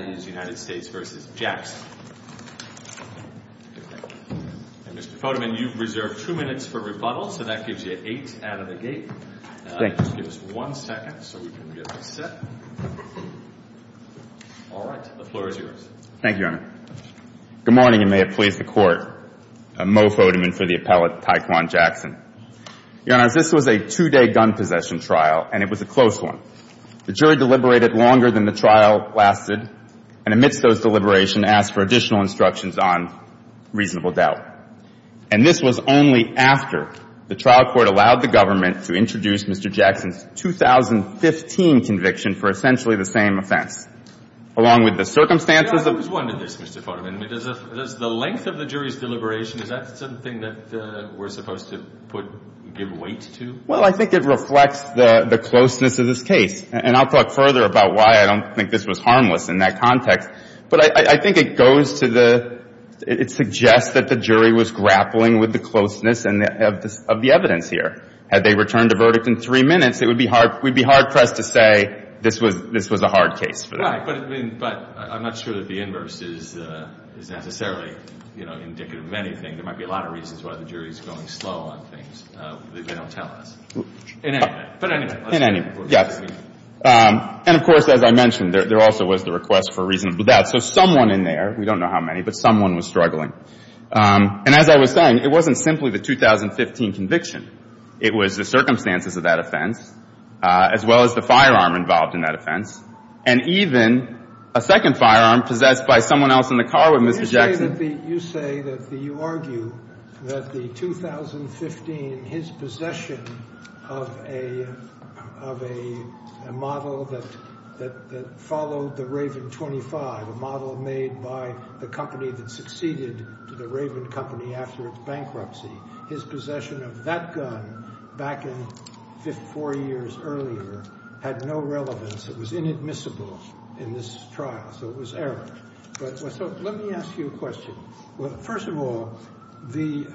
and Mr. Fodeman, you've reserved two minutes for rebuttal, so that gives you eight out of the gate. Just give us one second so we can get this set. All right, the floor is Thank you, Your Honor. Good morning, and may it please the Court. Mo Fodeman for the appellate Tyquan Jackson. Your Honors, this was a two-day gun possession trial, and it was a close one. The jury deliberated longer than the trial lasted, and amidst those deliberations asked for additional instructions on reasonable doubt. And this was only after the trial court allowed the government to introduce Mr. Jackson's 2015 conviction for essentially the same offense, along with the circumstances of the No, I was wondering this, Mr. Fodeman. Does the length of the jury's deliberation, is that something that we're supposed to put, give weight to? Well, I think it reflects the closeness of this case, and I'll talk further about why I don't think this was harmless in that context. But I think it goes to the, it suggests that the jury was grappling with the closeness of the evidence here. Had they returned a verdict in three minutes, it would be hard, we'd be hard-pressed to say this was a hard case for them. Right, but I mean, but I'm not sure that the inverse is necessarily, you know, indicative of anything. There might be a lot of reasons why the jury's going slow on things that they don't tell us. In any event. In any event, yes. And of course, as I mentioned, there also was the request for reasonable doubt. So someone in there, we don't know how many, but someone was struggling. And as I was saying, it wasn't simply the 2015 conviction. It was the circumstances of that offense, as well as the firearm involved in that offense, and even a second firearm possessed by someone else in the car with Mr. Jackson. You say that the, you argue that the 2015, his possession of a, of a model that, that followed the Raven 25, a model made by the company that succeeded to the Raven company after its bankruptcy, his possession of that gun back in four years earlier had no relevance. It was inadmissible in this trial. So it was error. So let me ask you a question. Well, first of all, the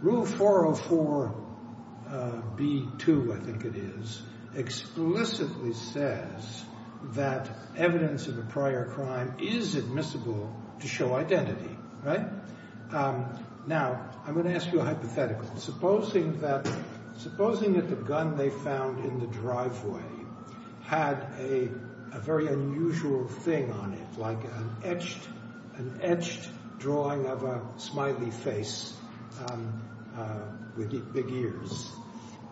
rule 404B2, I think it is, explicitly says that evidence of a prior crime is admissible to show identity. Right? Now, I'm going to ask you a hypothetical. Supposing that, supposing that the gun they found in the driveway had a very unusual thing on it, like an etched, an etched drawing of a smiley face with big ears,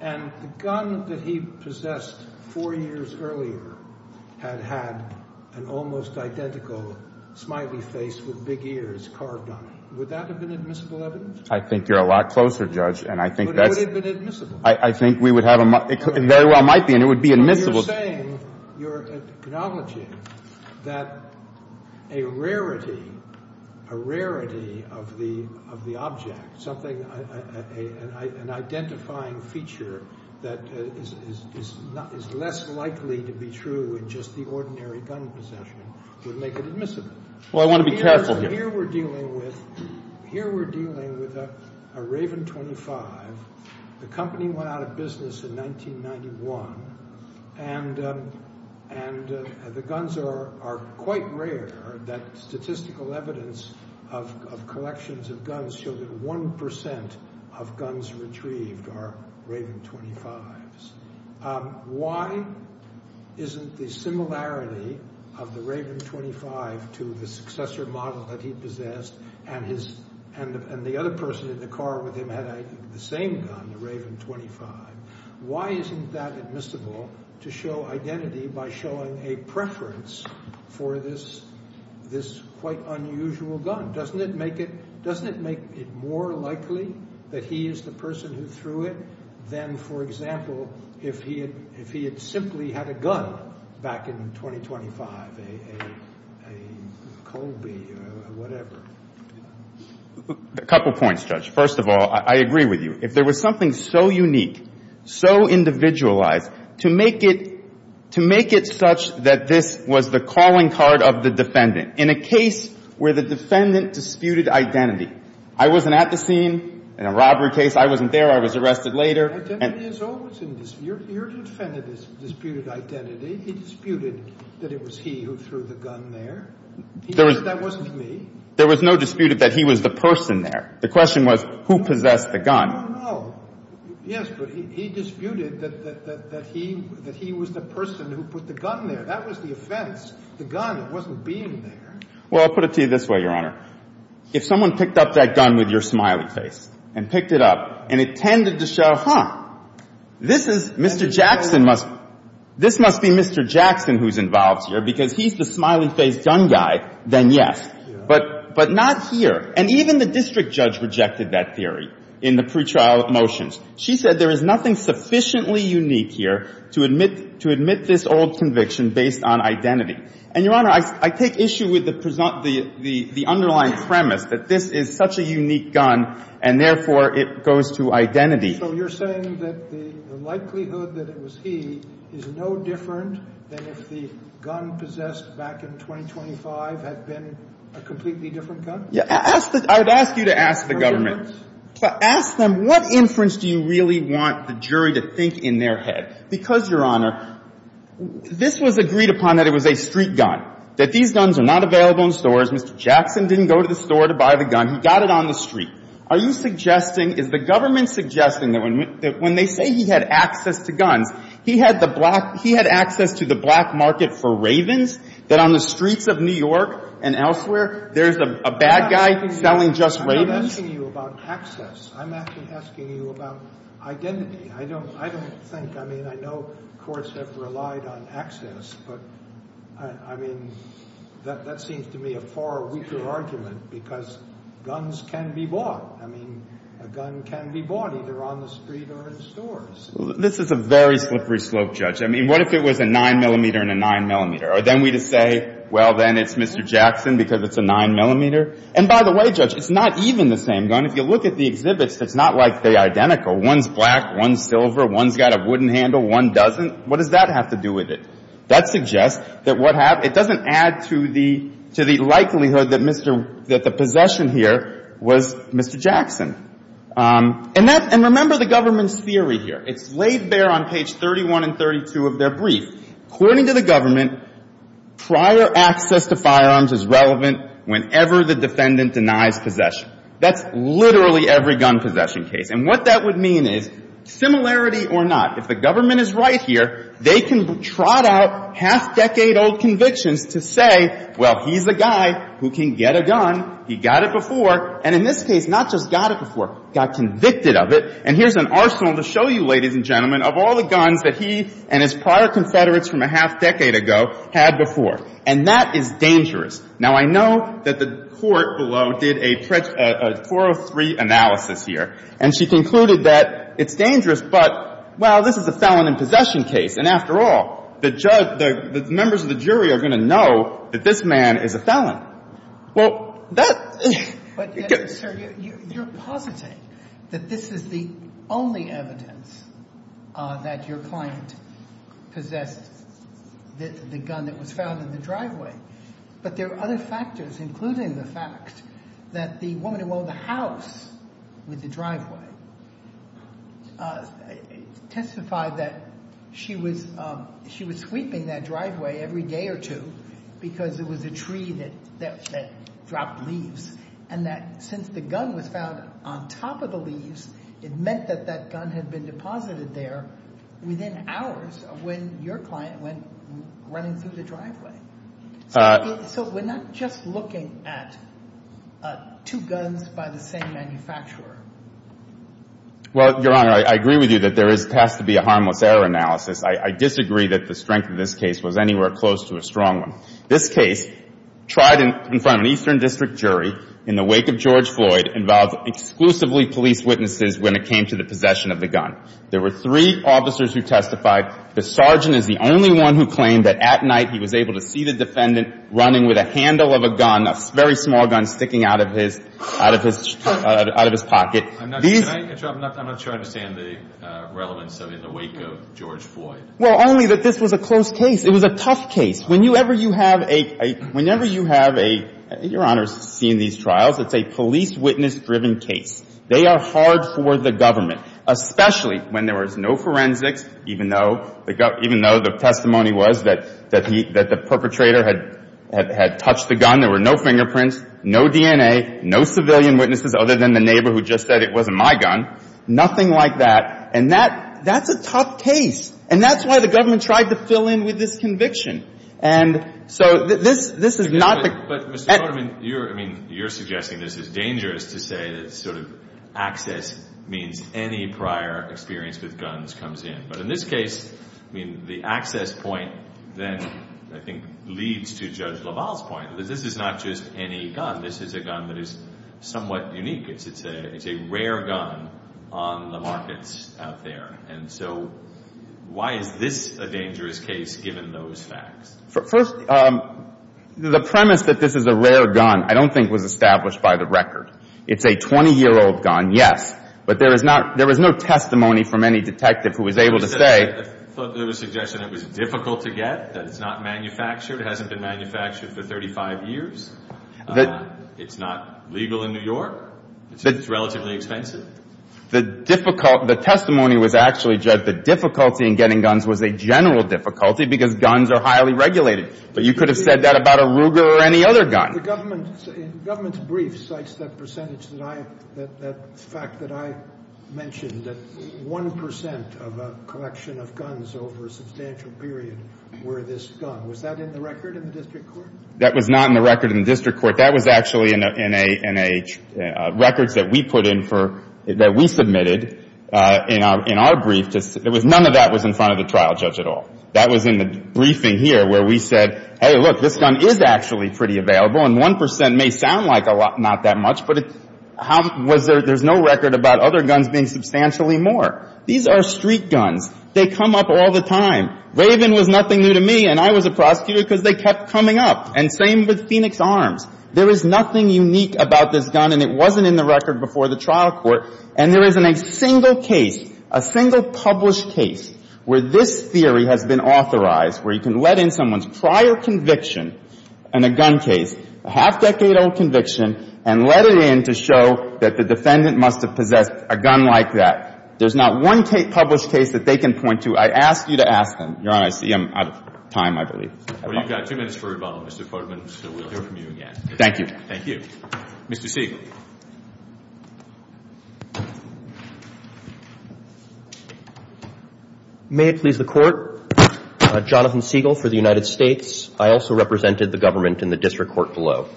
and the gun that he possessed four years earlier had had an almost identical smiley face with big ears carved on it. Would that have been admissible evidence? I think you're a lot closer, Judge, and I think that's... But it would have been admissible. I think we would have a... It very well might be, and it would be admissible. But you're saying, you're acknowledging that a rarity, a rarity of the object, something, an identifying feature that is less likely to be true in just the ordinary gun possession would make it admissible. Well, I want to be careful here. Here we're dealing with, here we're dealing with a Raven 25. The company went out of business in 1991, and the guns are quite rare. That statistical evidence of collections of guns show that 1% of guns retrieved are Raven 25s. Why isn't the similarity of the Raven 25 to the successor model that he possessed, and the other person in the car with him had the same gun, the Raven 25, why isn't that admissible to show identity by showing a preference for this quite unusual gun? Doesn't it make it more likely that he is the person who threw it than, for example, if he had simply had a gun back in 2025, a Colby or whatever? A couple points, Judge. First of all, I agree with you. If there was something so unique, so individualized, to make it such that this was the calling card of the defendant. In a case where the defendant disputed identity, I wasn't at the scene in a robbery case. I wasn't there. I was arrested later. Identity is always in dispute. Your defendant disputed identity. He disputed that it was he who threw the gun there. He said that wasn't me. There was no dispute that he was the person there. The question was who possessed the gun. No, no, no. Yes, but he disputed that he was the person who put the gun there. That was the offense. The gun wasn't being there. Well, I'll put it to you this way, Your Honor. If someone picked up that gun with your smiley face and picked it up and it tended to show, huh, this is Mr. Jackson must be Mr. Jackson who's involved here because he's the smiley face gun guy, then yes. But not here. And even the district judge rejected that theory in the pretrial motions. She said there is nothing sufficiently unique here to admit this old conviction based on identity. And, Your Honor, I take issue with the underlying premise that this is such a unique gun and, therefore, it goes to identity. So you're saying that the likelihood that it was he is no different than if the gun possessed back in 2025 had been a completely different gun? I would ask you to ask the government. To ask them what inference do you really want the jury to think in their head? Because, Your Honor, this was agreed upon that it was a street gun, that these guns are not available in stores. Mr. Jackson didn't go to the store to buy the gun. He got it on the street. Are you suggesting, is the government suggesting that when they say he had access to guns, he had the black he had access to the black market for Ravens, that on the streets of New York and elsewhere there's a bad guy selling just Ravens? I'm not asking you about access. I'm asking you about identity. I don't think, I mean, I know courts have relied on access, but, I mean, that seems to me a far weaker argument because guns can be bought. I mean, a gun can be bought either on the street or in stores. This is a very slippery slope, Judge. I mean, what if it was a 9-millimeter and a 9-millimeter? Are then we to say, well, then it's Mr. Jackson because it's a 9-millimeter? And, by the way, Judge, it's not even the same gun. If you look at the exhibits, it's not like they're identical. One's black, one's silver, one's got a wooden handle, one doesn't. What does that have to do with it? That suggests that what happens, it doesn't add to the likelihood that the possession here was Mr. Jackson. And remember the government's theory here. It's laid bare on page 31 and 32 of their brief. According to the government, prior access to firearms is relevant whenever the defendant denies possession. That's literally every gun possession case. And what that would mean is, similarity or not, if the government is right here, they can trot out half-decade-old convictions to say, well, he's a guy who can get a gun, he got it before, and in this case, not just got it before, got convicted of it, and here's an arsenal to show you, ladies and gentlemen, of all the guns that he and his prior Confederates from a half-decade ago had before. And that is dangerous. Now, I know that the court below did a 403 analysis here, and she concluded that it's dangerous, but, well, this is a felon in possession case, and after all, the members of the jury are going to know that this man is a felon. Well, that — But, sir, you're positing that this is the only evidence that your client possessed the gun that was found in the driveway, but there are other factors, including the fact that the woman who owned the house with the driveway testified that she was sweeping that driveway every day or two because it was a tree that dropped leaves, and that since the gun was found on top of the leaves, it meant that that gun had been deposited there within hours of when your client went running through the driveway. So we're not just looking at two guns by the same manufacturer. Well, Your Honor, I agree with you that there has to be a harmless error analysis. I disagree that the strength of this case was anywhere close to a strong one. This case, tried in front of an Eastern District jury in the wake of George Floyd, involved exclusively police witnesses when it came to the possession of the gun. There were three officers who testified. The sergeant is the only one who claimed that at night he was able to see the defendant running with a handle of a gun, a very small gun, sticking out of his pocket. I'm not sure I understand the relevance in the wake of George Floyd. Well, only that this was a close case. It was a tough case. Whenever you have a — whenever you have a — Your Honor's seen these trials. It's a police witness-driven case. They are hard for the government, especially when there was no forensics, even though the — even though the testimony was that he — that the perpetrator had touched the gun. There were no fingerprints, no DNA, no civilian witnesses other than the neighbor who just said it wasn't my gun. Nothing like that. And that — that's a tough case. And that's why the government tried to fill in with this conviction. And so this — this is not the — But, Mr. Goldman, you're — I mean, you're suggesting this is dangerous to say that sort of access means any prior experience with guns comes in. But in this case, I mean, the access point then I think leads to Judge LaValle's point, that this is not just any gun. This is a gun that is somewhat unique. It's a — it's a rare gun on the markets out there. And so why is this a dangerous case given those facts? First, the premise that this is a rare gun I don't think was established by the record. It's a 20-year-old gun, yes. But there is not — there was no testimony from any detective who was able to say — I thought there was a suggestion it was difficult to get, that it's not manufactured, hasn't been manufactured for 35 years, it's not legal in New York, it's relatively expensive. The difficult — the testimony was actually, Judge, the difficulty in getting guns was a general difficulty because guns are highly regulated. But you could have said that about a Ruger or any other gun. The government's brief cites that percentage that I — that fact that I mentioned, that 1 percent of a collection of guns over a substantial period were this gun. Was that in the record in the district court? That was not in the record in the district court. That was actually in a — records that we put in for — that we submitted in our brief. None of that was in front of the trial judge at all. That was in the briefing here where we said, hey, look, this gun is actually pretty available, and 1 percent may sound like a lot — not that much, but it — how — was there — there's no record about other guns being substantially more. These are street guns. They come up all the time. Raven was nothing new to me, and I was a prosecutor because they kept coming up. And same with Phoenix Arms. There is nothing unique about this gun, and it wasn't in the record before the trial court. And there isn't a single case, a single published case, where this theory has been authorized, where you can let in someone's prior conviction in a gun case, a half-decade-old conviction, and let it in to show that the defendant must have possessed a gun like that. There's not one published case that they can point to. I ask you to ask them. Your Honor, I see I'm out of time, I believe. Well, you've got two minutes for rebuttal, Mr. Kortman, so we'll hear from you again. Thank you. Thank you. Mr. Siegel. May it please the Court. Jonathan Siegel for the United States. I also represented the government in the district court below.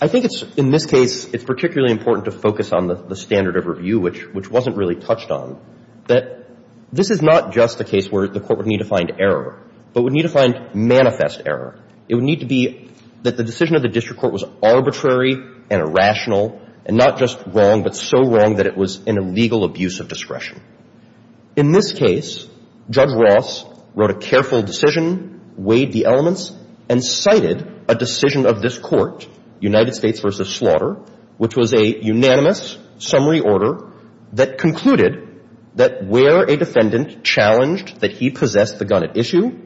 I think it's, in this case, it's particularly important to focus on the standard of review, which wasn't really touched on, that this is not just a case where the Court would need to find error, but would need to find manifest error. It would need to be that the decision of the district court was arbitrary and irrational, and not just wrong, but so wrong that it was an illegal abuse of discretion. In this case, Judge Ross wrote a careful decision, weighed the elements, and cited a decision of this Court, United States v. Slaughter, which was a unanimous summary order that concluded that where a defendant challenged that he possessed the gun at issue,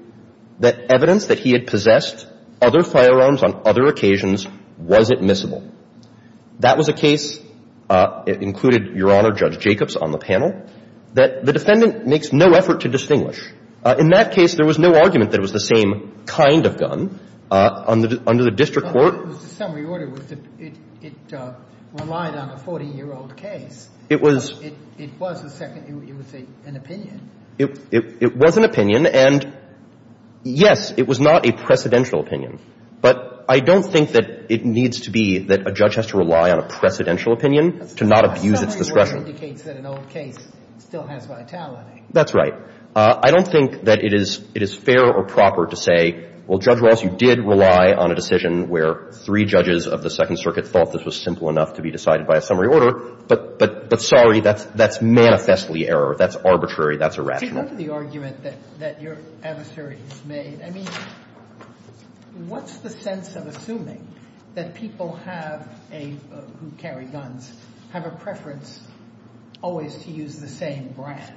that evidence that he had possessed other firearms on other occasions wasn't miscible. That was a case, it included Your Honor Judge Jacobs on the panel, that the defendant makes no effort to distinguish. In that case, there was no argument that it was the same kind of gun under the district court. Well, it was the summary order. It relied on a 40-year-old case. It was. It was the second. It was an opinion. It was an opinion, and yes, it was not a precedential opinion. But I don't think that it needs to be that a judge has to rely on a precedential opinion to not abuse its discretion. A summary order indicates that an old case still has vitality. That's right. I don't think that it is fair or proper to say, well, Judge Ross, you did rely on a decision where three judges of the Second Circuit thought this was simple enough to be decided by a summary order, but sorry, that's manifestly error. That's arbitrary. That's irrational. To go to the argument that your adversary has made, I mean, what's the sense of assuming that people have a, who carry guns, have a preference always to use the same brand,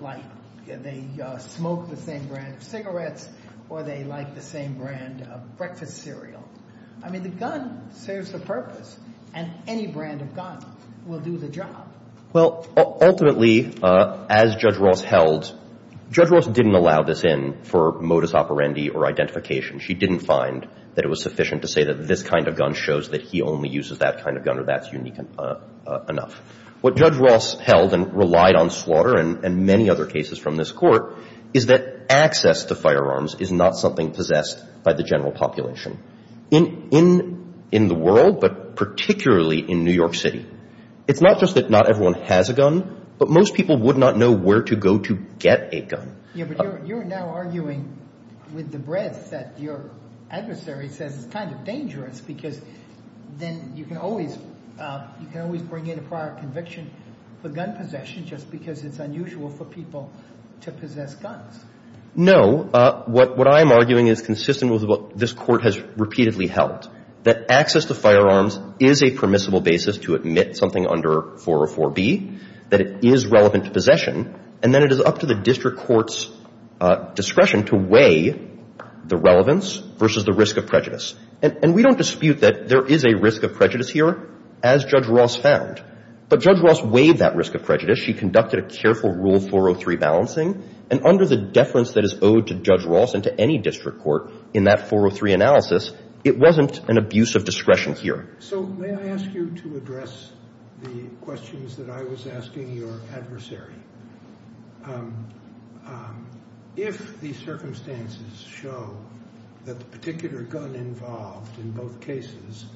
like they smoke the same brand of cigarettes or they like the same brand of breakfast cereal? I mean, the gun serves a purpose, and any brand of gun will do the job. Well, ultimately, as Judge Ross held, Judge Ross didn't allow this in for modus operandi or identification. She didn't find that it was sufficient to say that this kind of gun shows that he only uses that kind of gun or that's unique enough. What Judge Ross held and relied on slaughter and many other cases from this Court is that access to firearms is not something possessed by the general population. In the world, but particularly in New York City, it's not just that not everyone has a gun, but most people would not know where to go to get a gun. Yeah, but you're now arguing with the breadth that your adversary says it's kind of dangerous because then you can always bring in a prior conviction for gun possession just because it's unusual for people to possess guns. No. What I'm arguing is consistent with what this Court has repeatedly held, that access to firearms is a permissible basis to admit something under 404B, that it is relevant to possession, and then it is up to the district court's discretion to weigh the relevance versus the risk of prejudice. And we don't dispute that there is a risk of prejudice here, as Judge Ross found. But Judge Ross weighed that risk of prejudice. She conducted a careful Rule 403 balancing. And under the deference that is owed to Judge Ross and to any district court in that 403 analysis, it wasn't an abuse of discretion here. So may I ask you to address the questions that I was asking your adversary? If the circumstances show that the particular gun involved in both cases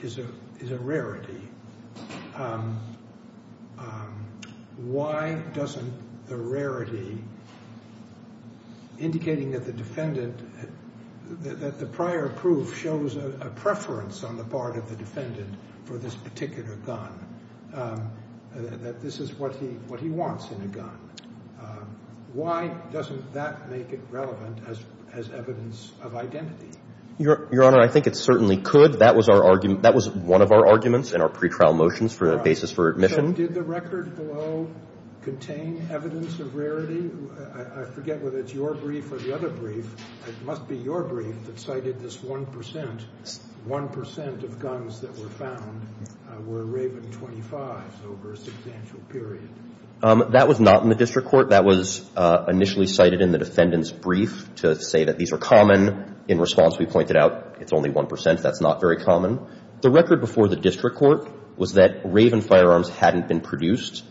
is a rarity, why doesn't the rarity indicating that the defendant, that the prior proof shows a preference on the part of the defendant for this particular gun, that this is what he wants in a gun, why doesn't that make it relevant as evidence of identity? Your Honor, I think it certainly could. That was our argument. That was one of our arguments in our pretrial motions for a basis for admission. So did the record below contain evidence of rarity? I forget whether it's your brief or the other brief. It must be your brief that cited this 1 percent, 1 percent of guns that were found were Raven 25s over a substantial period. That was not in the district court. That was initially cited in the defendant's brief to say that these are common. In response, we pointed out it's only 1 percent. That's not very common. The record before the district court was that Raven firearms hadn't been produced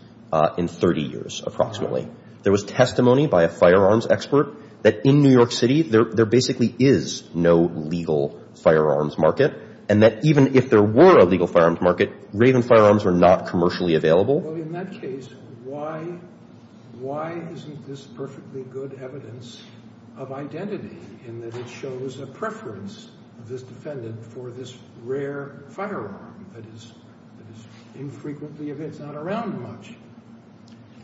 in 30 years approximately. There was testimony by a firearms expert that in New York City there basically is no legal firearms market and that even if there were a legal firearms market, Raven firearms were not commercially available. Well, in that case, why isn't this perfectly good evidence of identity in that it shows a preference of this defendant for this rare firearm that is infrequently, if it's not around much?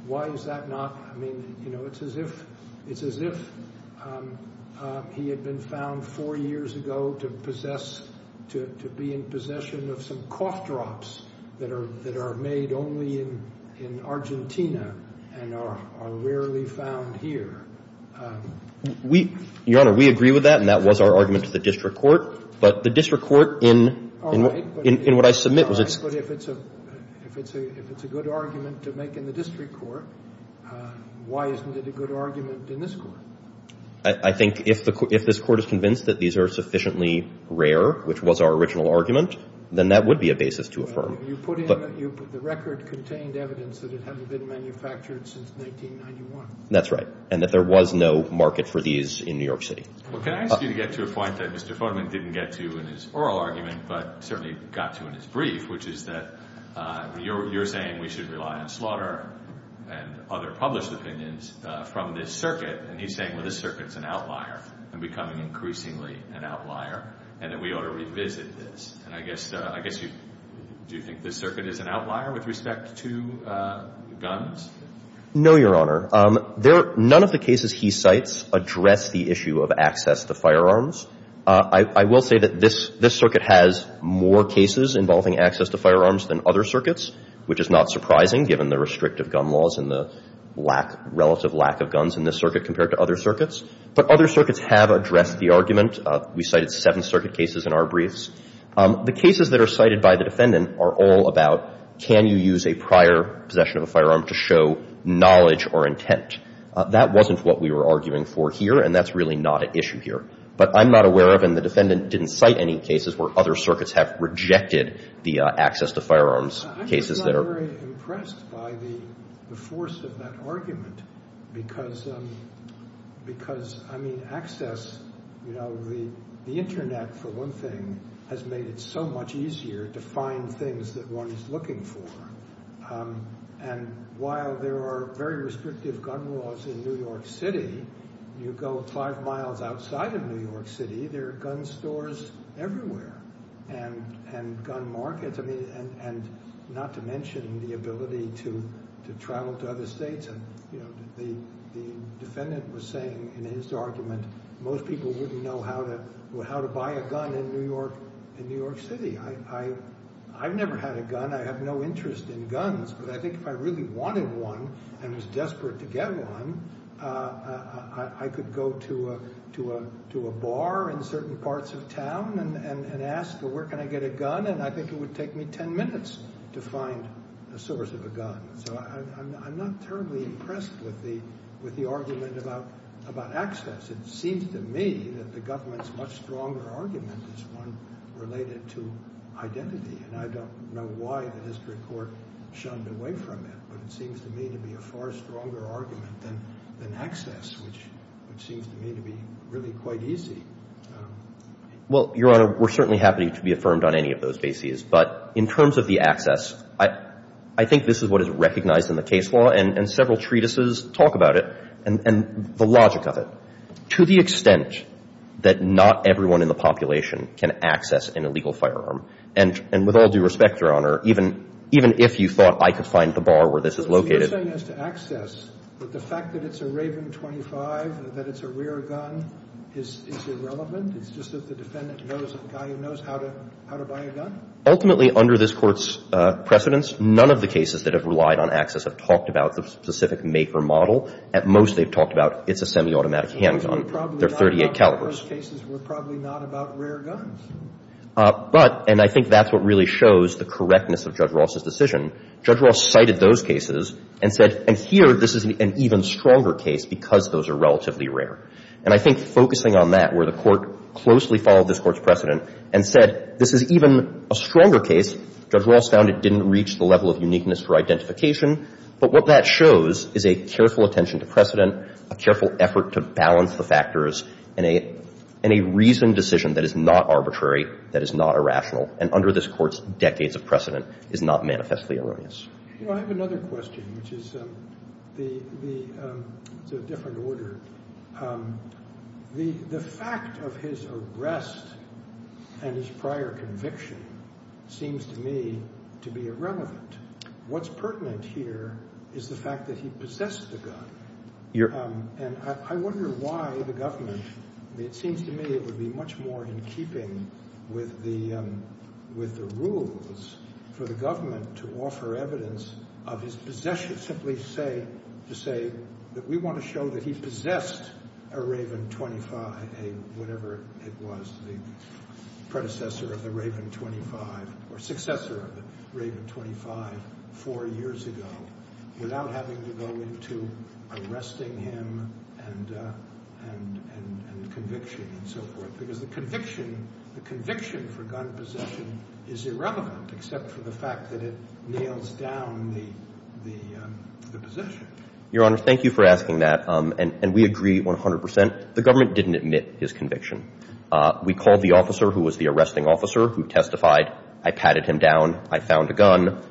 Why is that not? I mean, you know, it's as if he had been found four years ago to possess, to be in possession of some cough drops that are made only in Argentina and are rarely found here. Your Honor, we agree with that, and that was our argument to the district court, but the district court in what I submit was it's... All right, but if it's a good argument to make in the district court, why isn't it a good argument in this court? I think if this court is convinced that these are sufficiently rare, which was our original argument, then that would be a basis to affirm. You put in the record contained evidence that it hadn't been manufactured since 1991. That's right, and that there was no market for these in New York City. Well, can I ask you to get to a point that Mr. Fodeman didn't get to in his oral argument, but certainly got to in his brief, which is that you're saying we should rely on slaughter and other published opinions from this circuit, and he's saying, well, this circuit's an outlier and becoming increasingly an outlier, and that we ought to revisit this. And I guess you, do you think this circuit is an outlier with respect to guns? No, Your Honor. None of the cases he cites address the issue of access to firearms. I will say that this circuit has more cases involving access to firearms than other circuits, which is not surprising given the restrictive gun laws and the lack, relative lack of guns in this circuit compared to other circuits. But other circuits have addressed the argument. We cited Seventh Circuit cases in our briefs. The cases that are cited by the defendant are all about can you use a prior possession of a firearm to show knowledge or intent. That wasn't what we were arguing for here, and that's really not an issue here. But I'm not aware of, and the defendant didn't cite, any cases where other circuits have rejected the access to firearms cases that are. I'm not very impressed by the force of that argument because, I mean, access, you know, the Internet, for one thing, has made it so much easier to find things that one is looking for. And while there are very restrictive gun laws in New York City, you go five miles outside of New York City, there are gun stores everywhere and gun markets. And not to mention the ability to travel to other states. The defendant was saying in his argument most people wouldn't know how to buy a gun in New York City. I've never had a gun. I have no interest in guns. But I think if I really wanted one and was desperate to get one, I could go to a bar in certain parts of town and ask, well, where can I get a gun? And I think it would take me ten minutes to find a source of a gun. So I'm not terribly impressed with the argument about access. It seems to me that the government's much stronger argument is one related to identity. And I don't know why the district court shunned away from it. But it seems to me to be a far stronger argument than access, which seems to me to be really quite easy. Well, Your Honor, we're certainly happy to be affirmed on any of those bases. But in terms of the access, I think this is what is recognized in the case law. And several treatises talk about it and the logic of it, to the extent that not everyone in the population can access an illegal firearm. And with all due respect, Your Honor, even if you thought I could find the bar where this is located. So you're saying as to access, that the fact that it's a Raven .25, that it's a rare gun, is irrelevant? It's just that the defendant knows a guy who knows how to buy a gun? Ultimately, under this Court's precedence, none of the cases that have relied on access have talked about the specific make or model. At most, they've talked about it's a semiautomatic handgun. They're .38 calibers. But in the first cases, we're probably not about rare guns. But, and I think that's what really shows the correctness of Judge Ross's decision, Judge Ross cited those cases and said, and here, this is an even stronger case because those are relatively rare. And I think focusing on that, where the Court closely followed this Court's precedent and said, this is even a stronger case. Judge Ross found it didn't reach the level of uniqueness for identification. But what that shows is a careful attention to precedent, a careful effort to balance the factors in a reasoned decision that is not arbitrary, that is not irrational. And under this Court's decades of precedent is not manifestly erroneous. I have another question, which is the – it's a different order. The fact of his arrest and his prior conviction seems to me to be irrelevant. What's pertinent here is the fact that he possessed the gun. And I wonder why the government – it seems to me it would be much more in keeping with the rules for the government to offer evidence of his possession. Simply to say that we want to show that he possessed a Raven 25, whatever it was, the predecessor of the Raven 25 or successor of the Raven 25 four years ago, without having to go into arresting him and conviction and so forth. Because the conviction – the conviction for gun possession is irrelevant except for the fact that it nails down the possession. Your Honor, thank you for asking that. And we agree 100 percent. The government didn't admit his conviction. We called the officer who was the arresting officer who testified. I patted him down. I found a gun.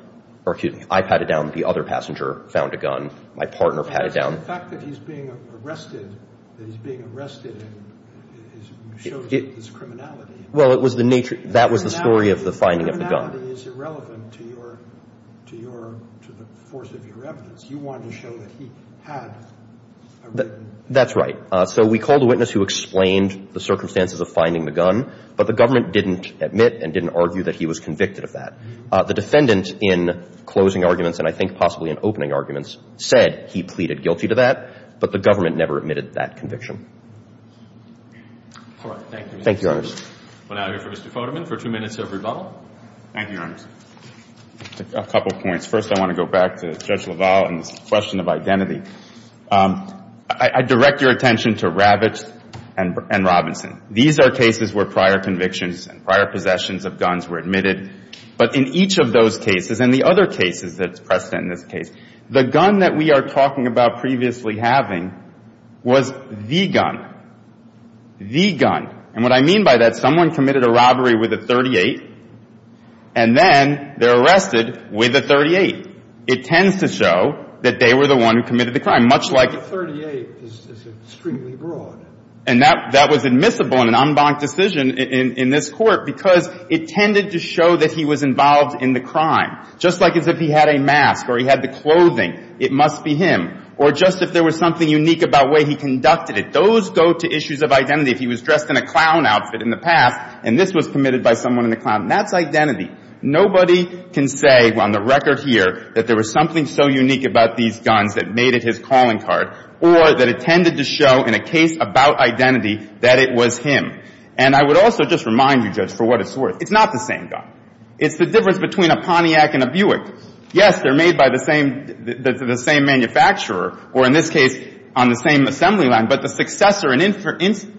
Or excuse me. I patted down. The other passenger found a gun. My partner patted down. The fact that he's being arrested – that he's being arrested shows his criminality. Well, it was the nature – that was the story of the finding of the gun. Criminality is irrelevant to your – to the force of your evidence. You wanted to show that he had a Raven. That's right. So we called a witness who explained the circumstances of finding the gun. But the government didn't admit and didn't argue that he was convicted of that. The defendant in closing arguments and I think possibly in opening arguments said he pleaded guilty to that, but the government never admitted that conviction. All right. Thank you. Thank you, Your Honors. We're now here for Mr. Foderman for two minutes of rebuttal. Thank you, Your Honors. A couple points. First, I want to go back to Judge LaValle and his question of identity. I direct your attention to Ravitch and Robinson. These are cases where prior convictions and prior possessions of guns were admitted, but in each of those cases and the other cases that's precedent in this case, the gun that we are talking about previously having was the gun, the gun. And what I mean by that, someone committed a robbery with a .38, and then they're arrested with a .38. It tends to show that they were the one who committed the crime, much like – But a .38 is extremely broad. And that was admissible in an en banc decision in this Court because it tended to show that he was involved in the crime, just like as if he had a mask or he had the clothing, it must be him, or just if there was something unique about the way he conducted it. Those go to issues of identity. If he was dressed in a clown outfit in the past, and this was committed by someone in a clown, that's identity. Nobody can say on the record here that there was something so unique about these guns that made it his calling card or that it tended to show in a case about identity that it was him. And I would also just remind you, Judge, for what it's worth, it's not the same gun. It's the difference between a Pontiac and a Buick. Yes, they're made by the same manufacturer or, in this case, on the same assembly line, but the successor and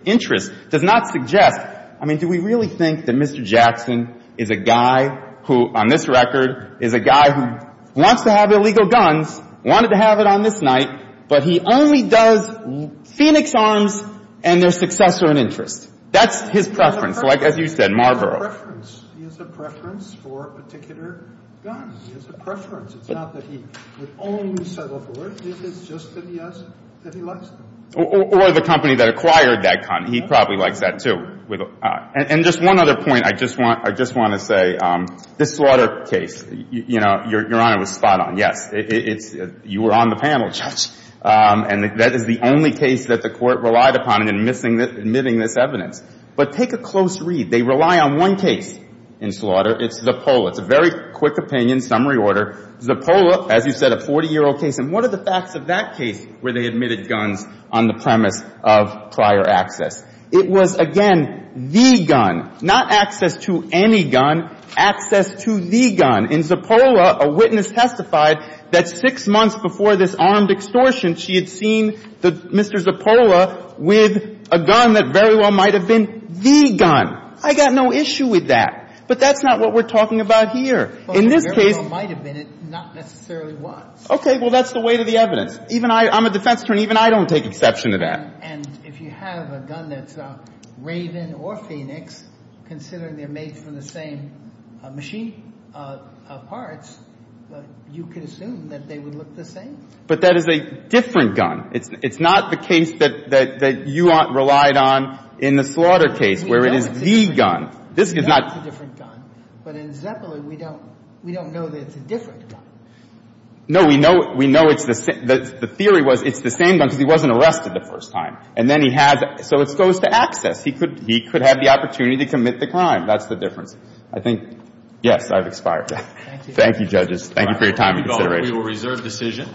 interest does not suggest – I mean, do we really think that Mr. Jackson is a guy who, on this record, is a guy who wants to have illegal guns, wanted to have it on this night, but he only does Phoenix Arms and their successor and interest? That's his preference, like, as you said, Marlboro. He has a preference for a particular gun. He has a preference. It's not that he would only settle for it. It's just that he has – that he likes them. Or the company that acquired that gun. He probably likes that, too. And just one other point I just want – I just want to say. This slaughter case, you know, Your Honor, was spot on. Yes. It's – you were on the panel, Judge. And that is the only case that the Court relied upon in admitting this evidence. But take a close read. They rely on one case in slaughter. It's Zappola. It's a very quick opinion, summary order. Zappola, as you said, a 40-year-old case. And what are the facts of that case where they admitted guns on the premise of prior access? It was, again, the gun. Not access to any gun. Access to the gun. In Zappola, a witness testified that six months before this armed extortion, she had seen Mr. Zappola with a gun that very well might have been the gun. I got no issue with that. But that's not what we're talking about here. In this case – Well, it very well might have been it. Not necessarily was. Okay. Well, that's the weight of the evidence. Even I – I'm a defense attorney. Even I don't take exception to that. And if you have a gun that's Raven or Phoenix, considering they're made from the same machine parts, you could assume that they would look the same. But that is a different gun. It's not the case that you relied on in the slaughter case, where it is the gun. This is not – It's a different gun. But in Zappola, we don't know that it's a different gun. No, we know it's the same. The theory was it's the same gun because he wasn't arrested the first time. And then he has – so it goes to access. He could have the opportunity to commit the crime. That's the difference. I think – yes, I've expired. Thank you. Thank you, judges. Thank you for your time and consideration. We will reserve decision.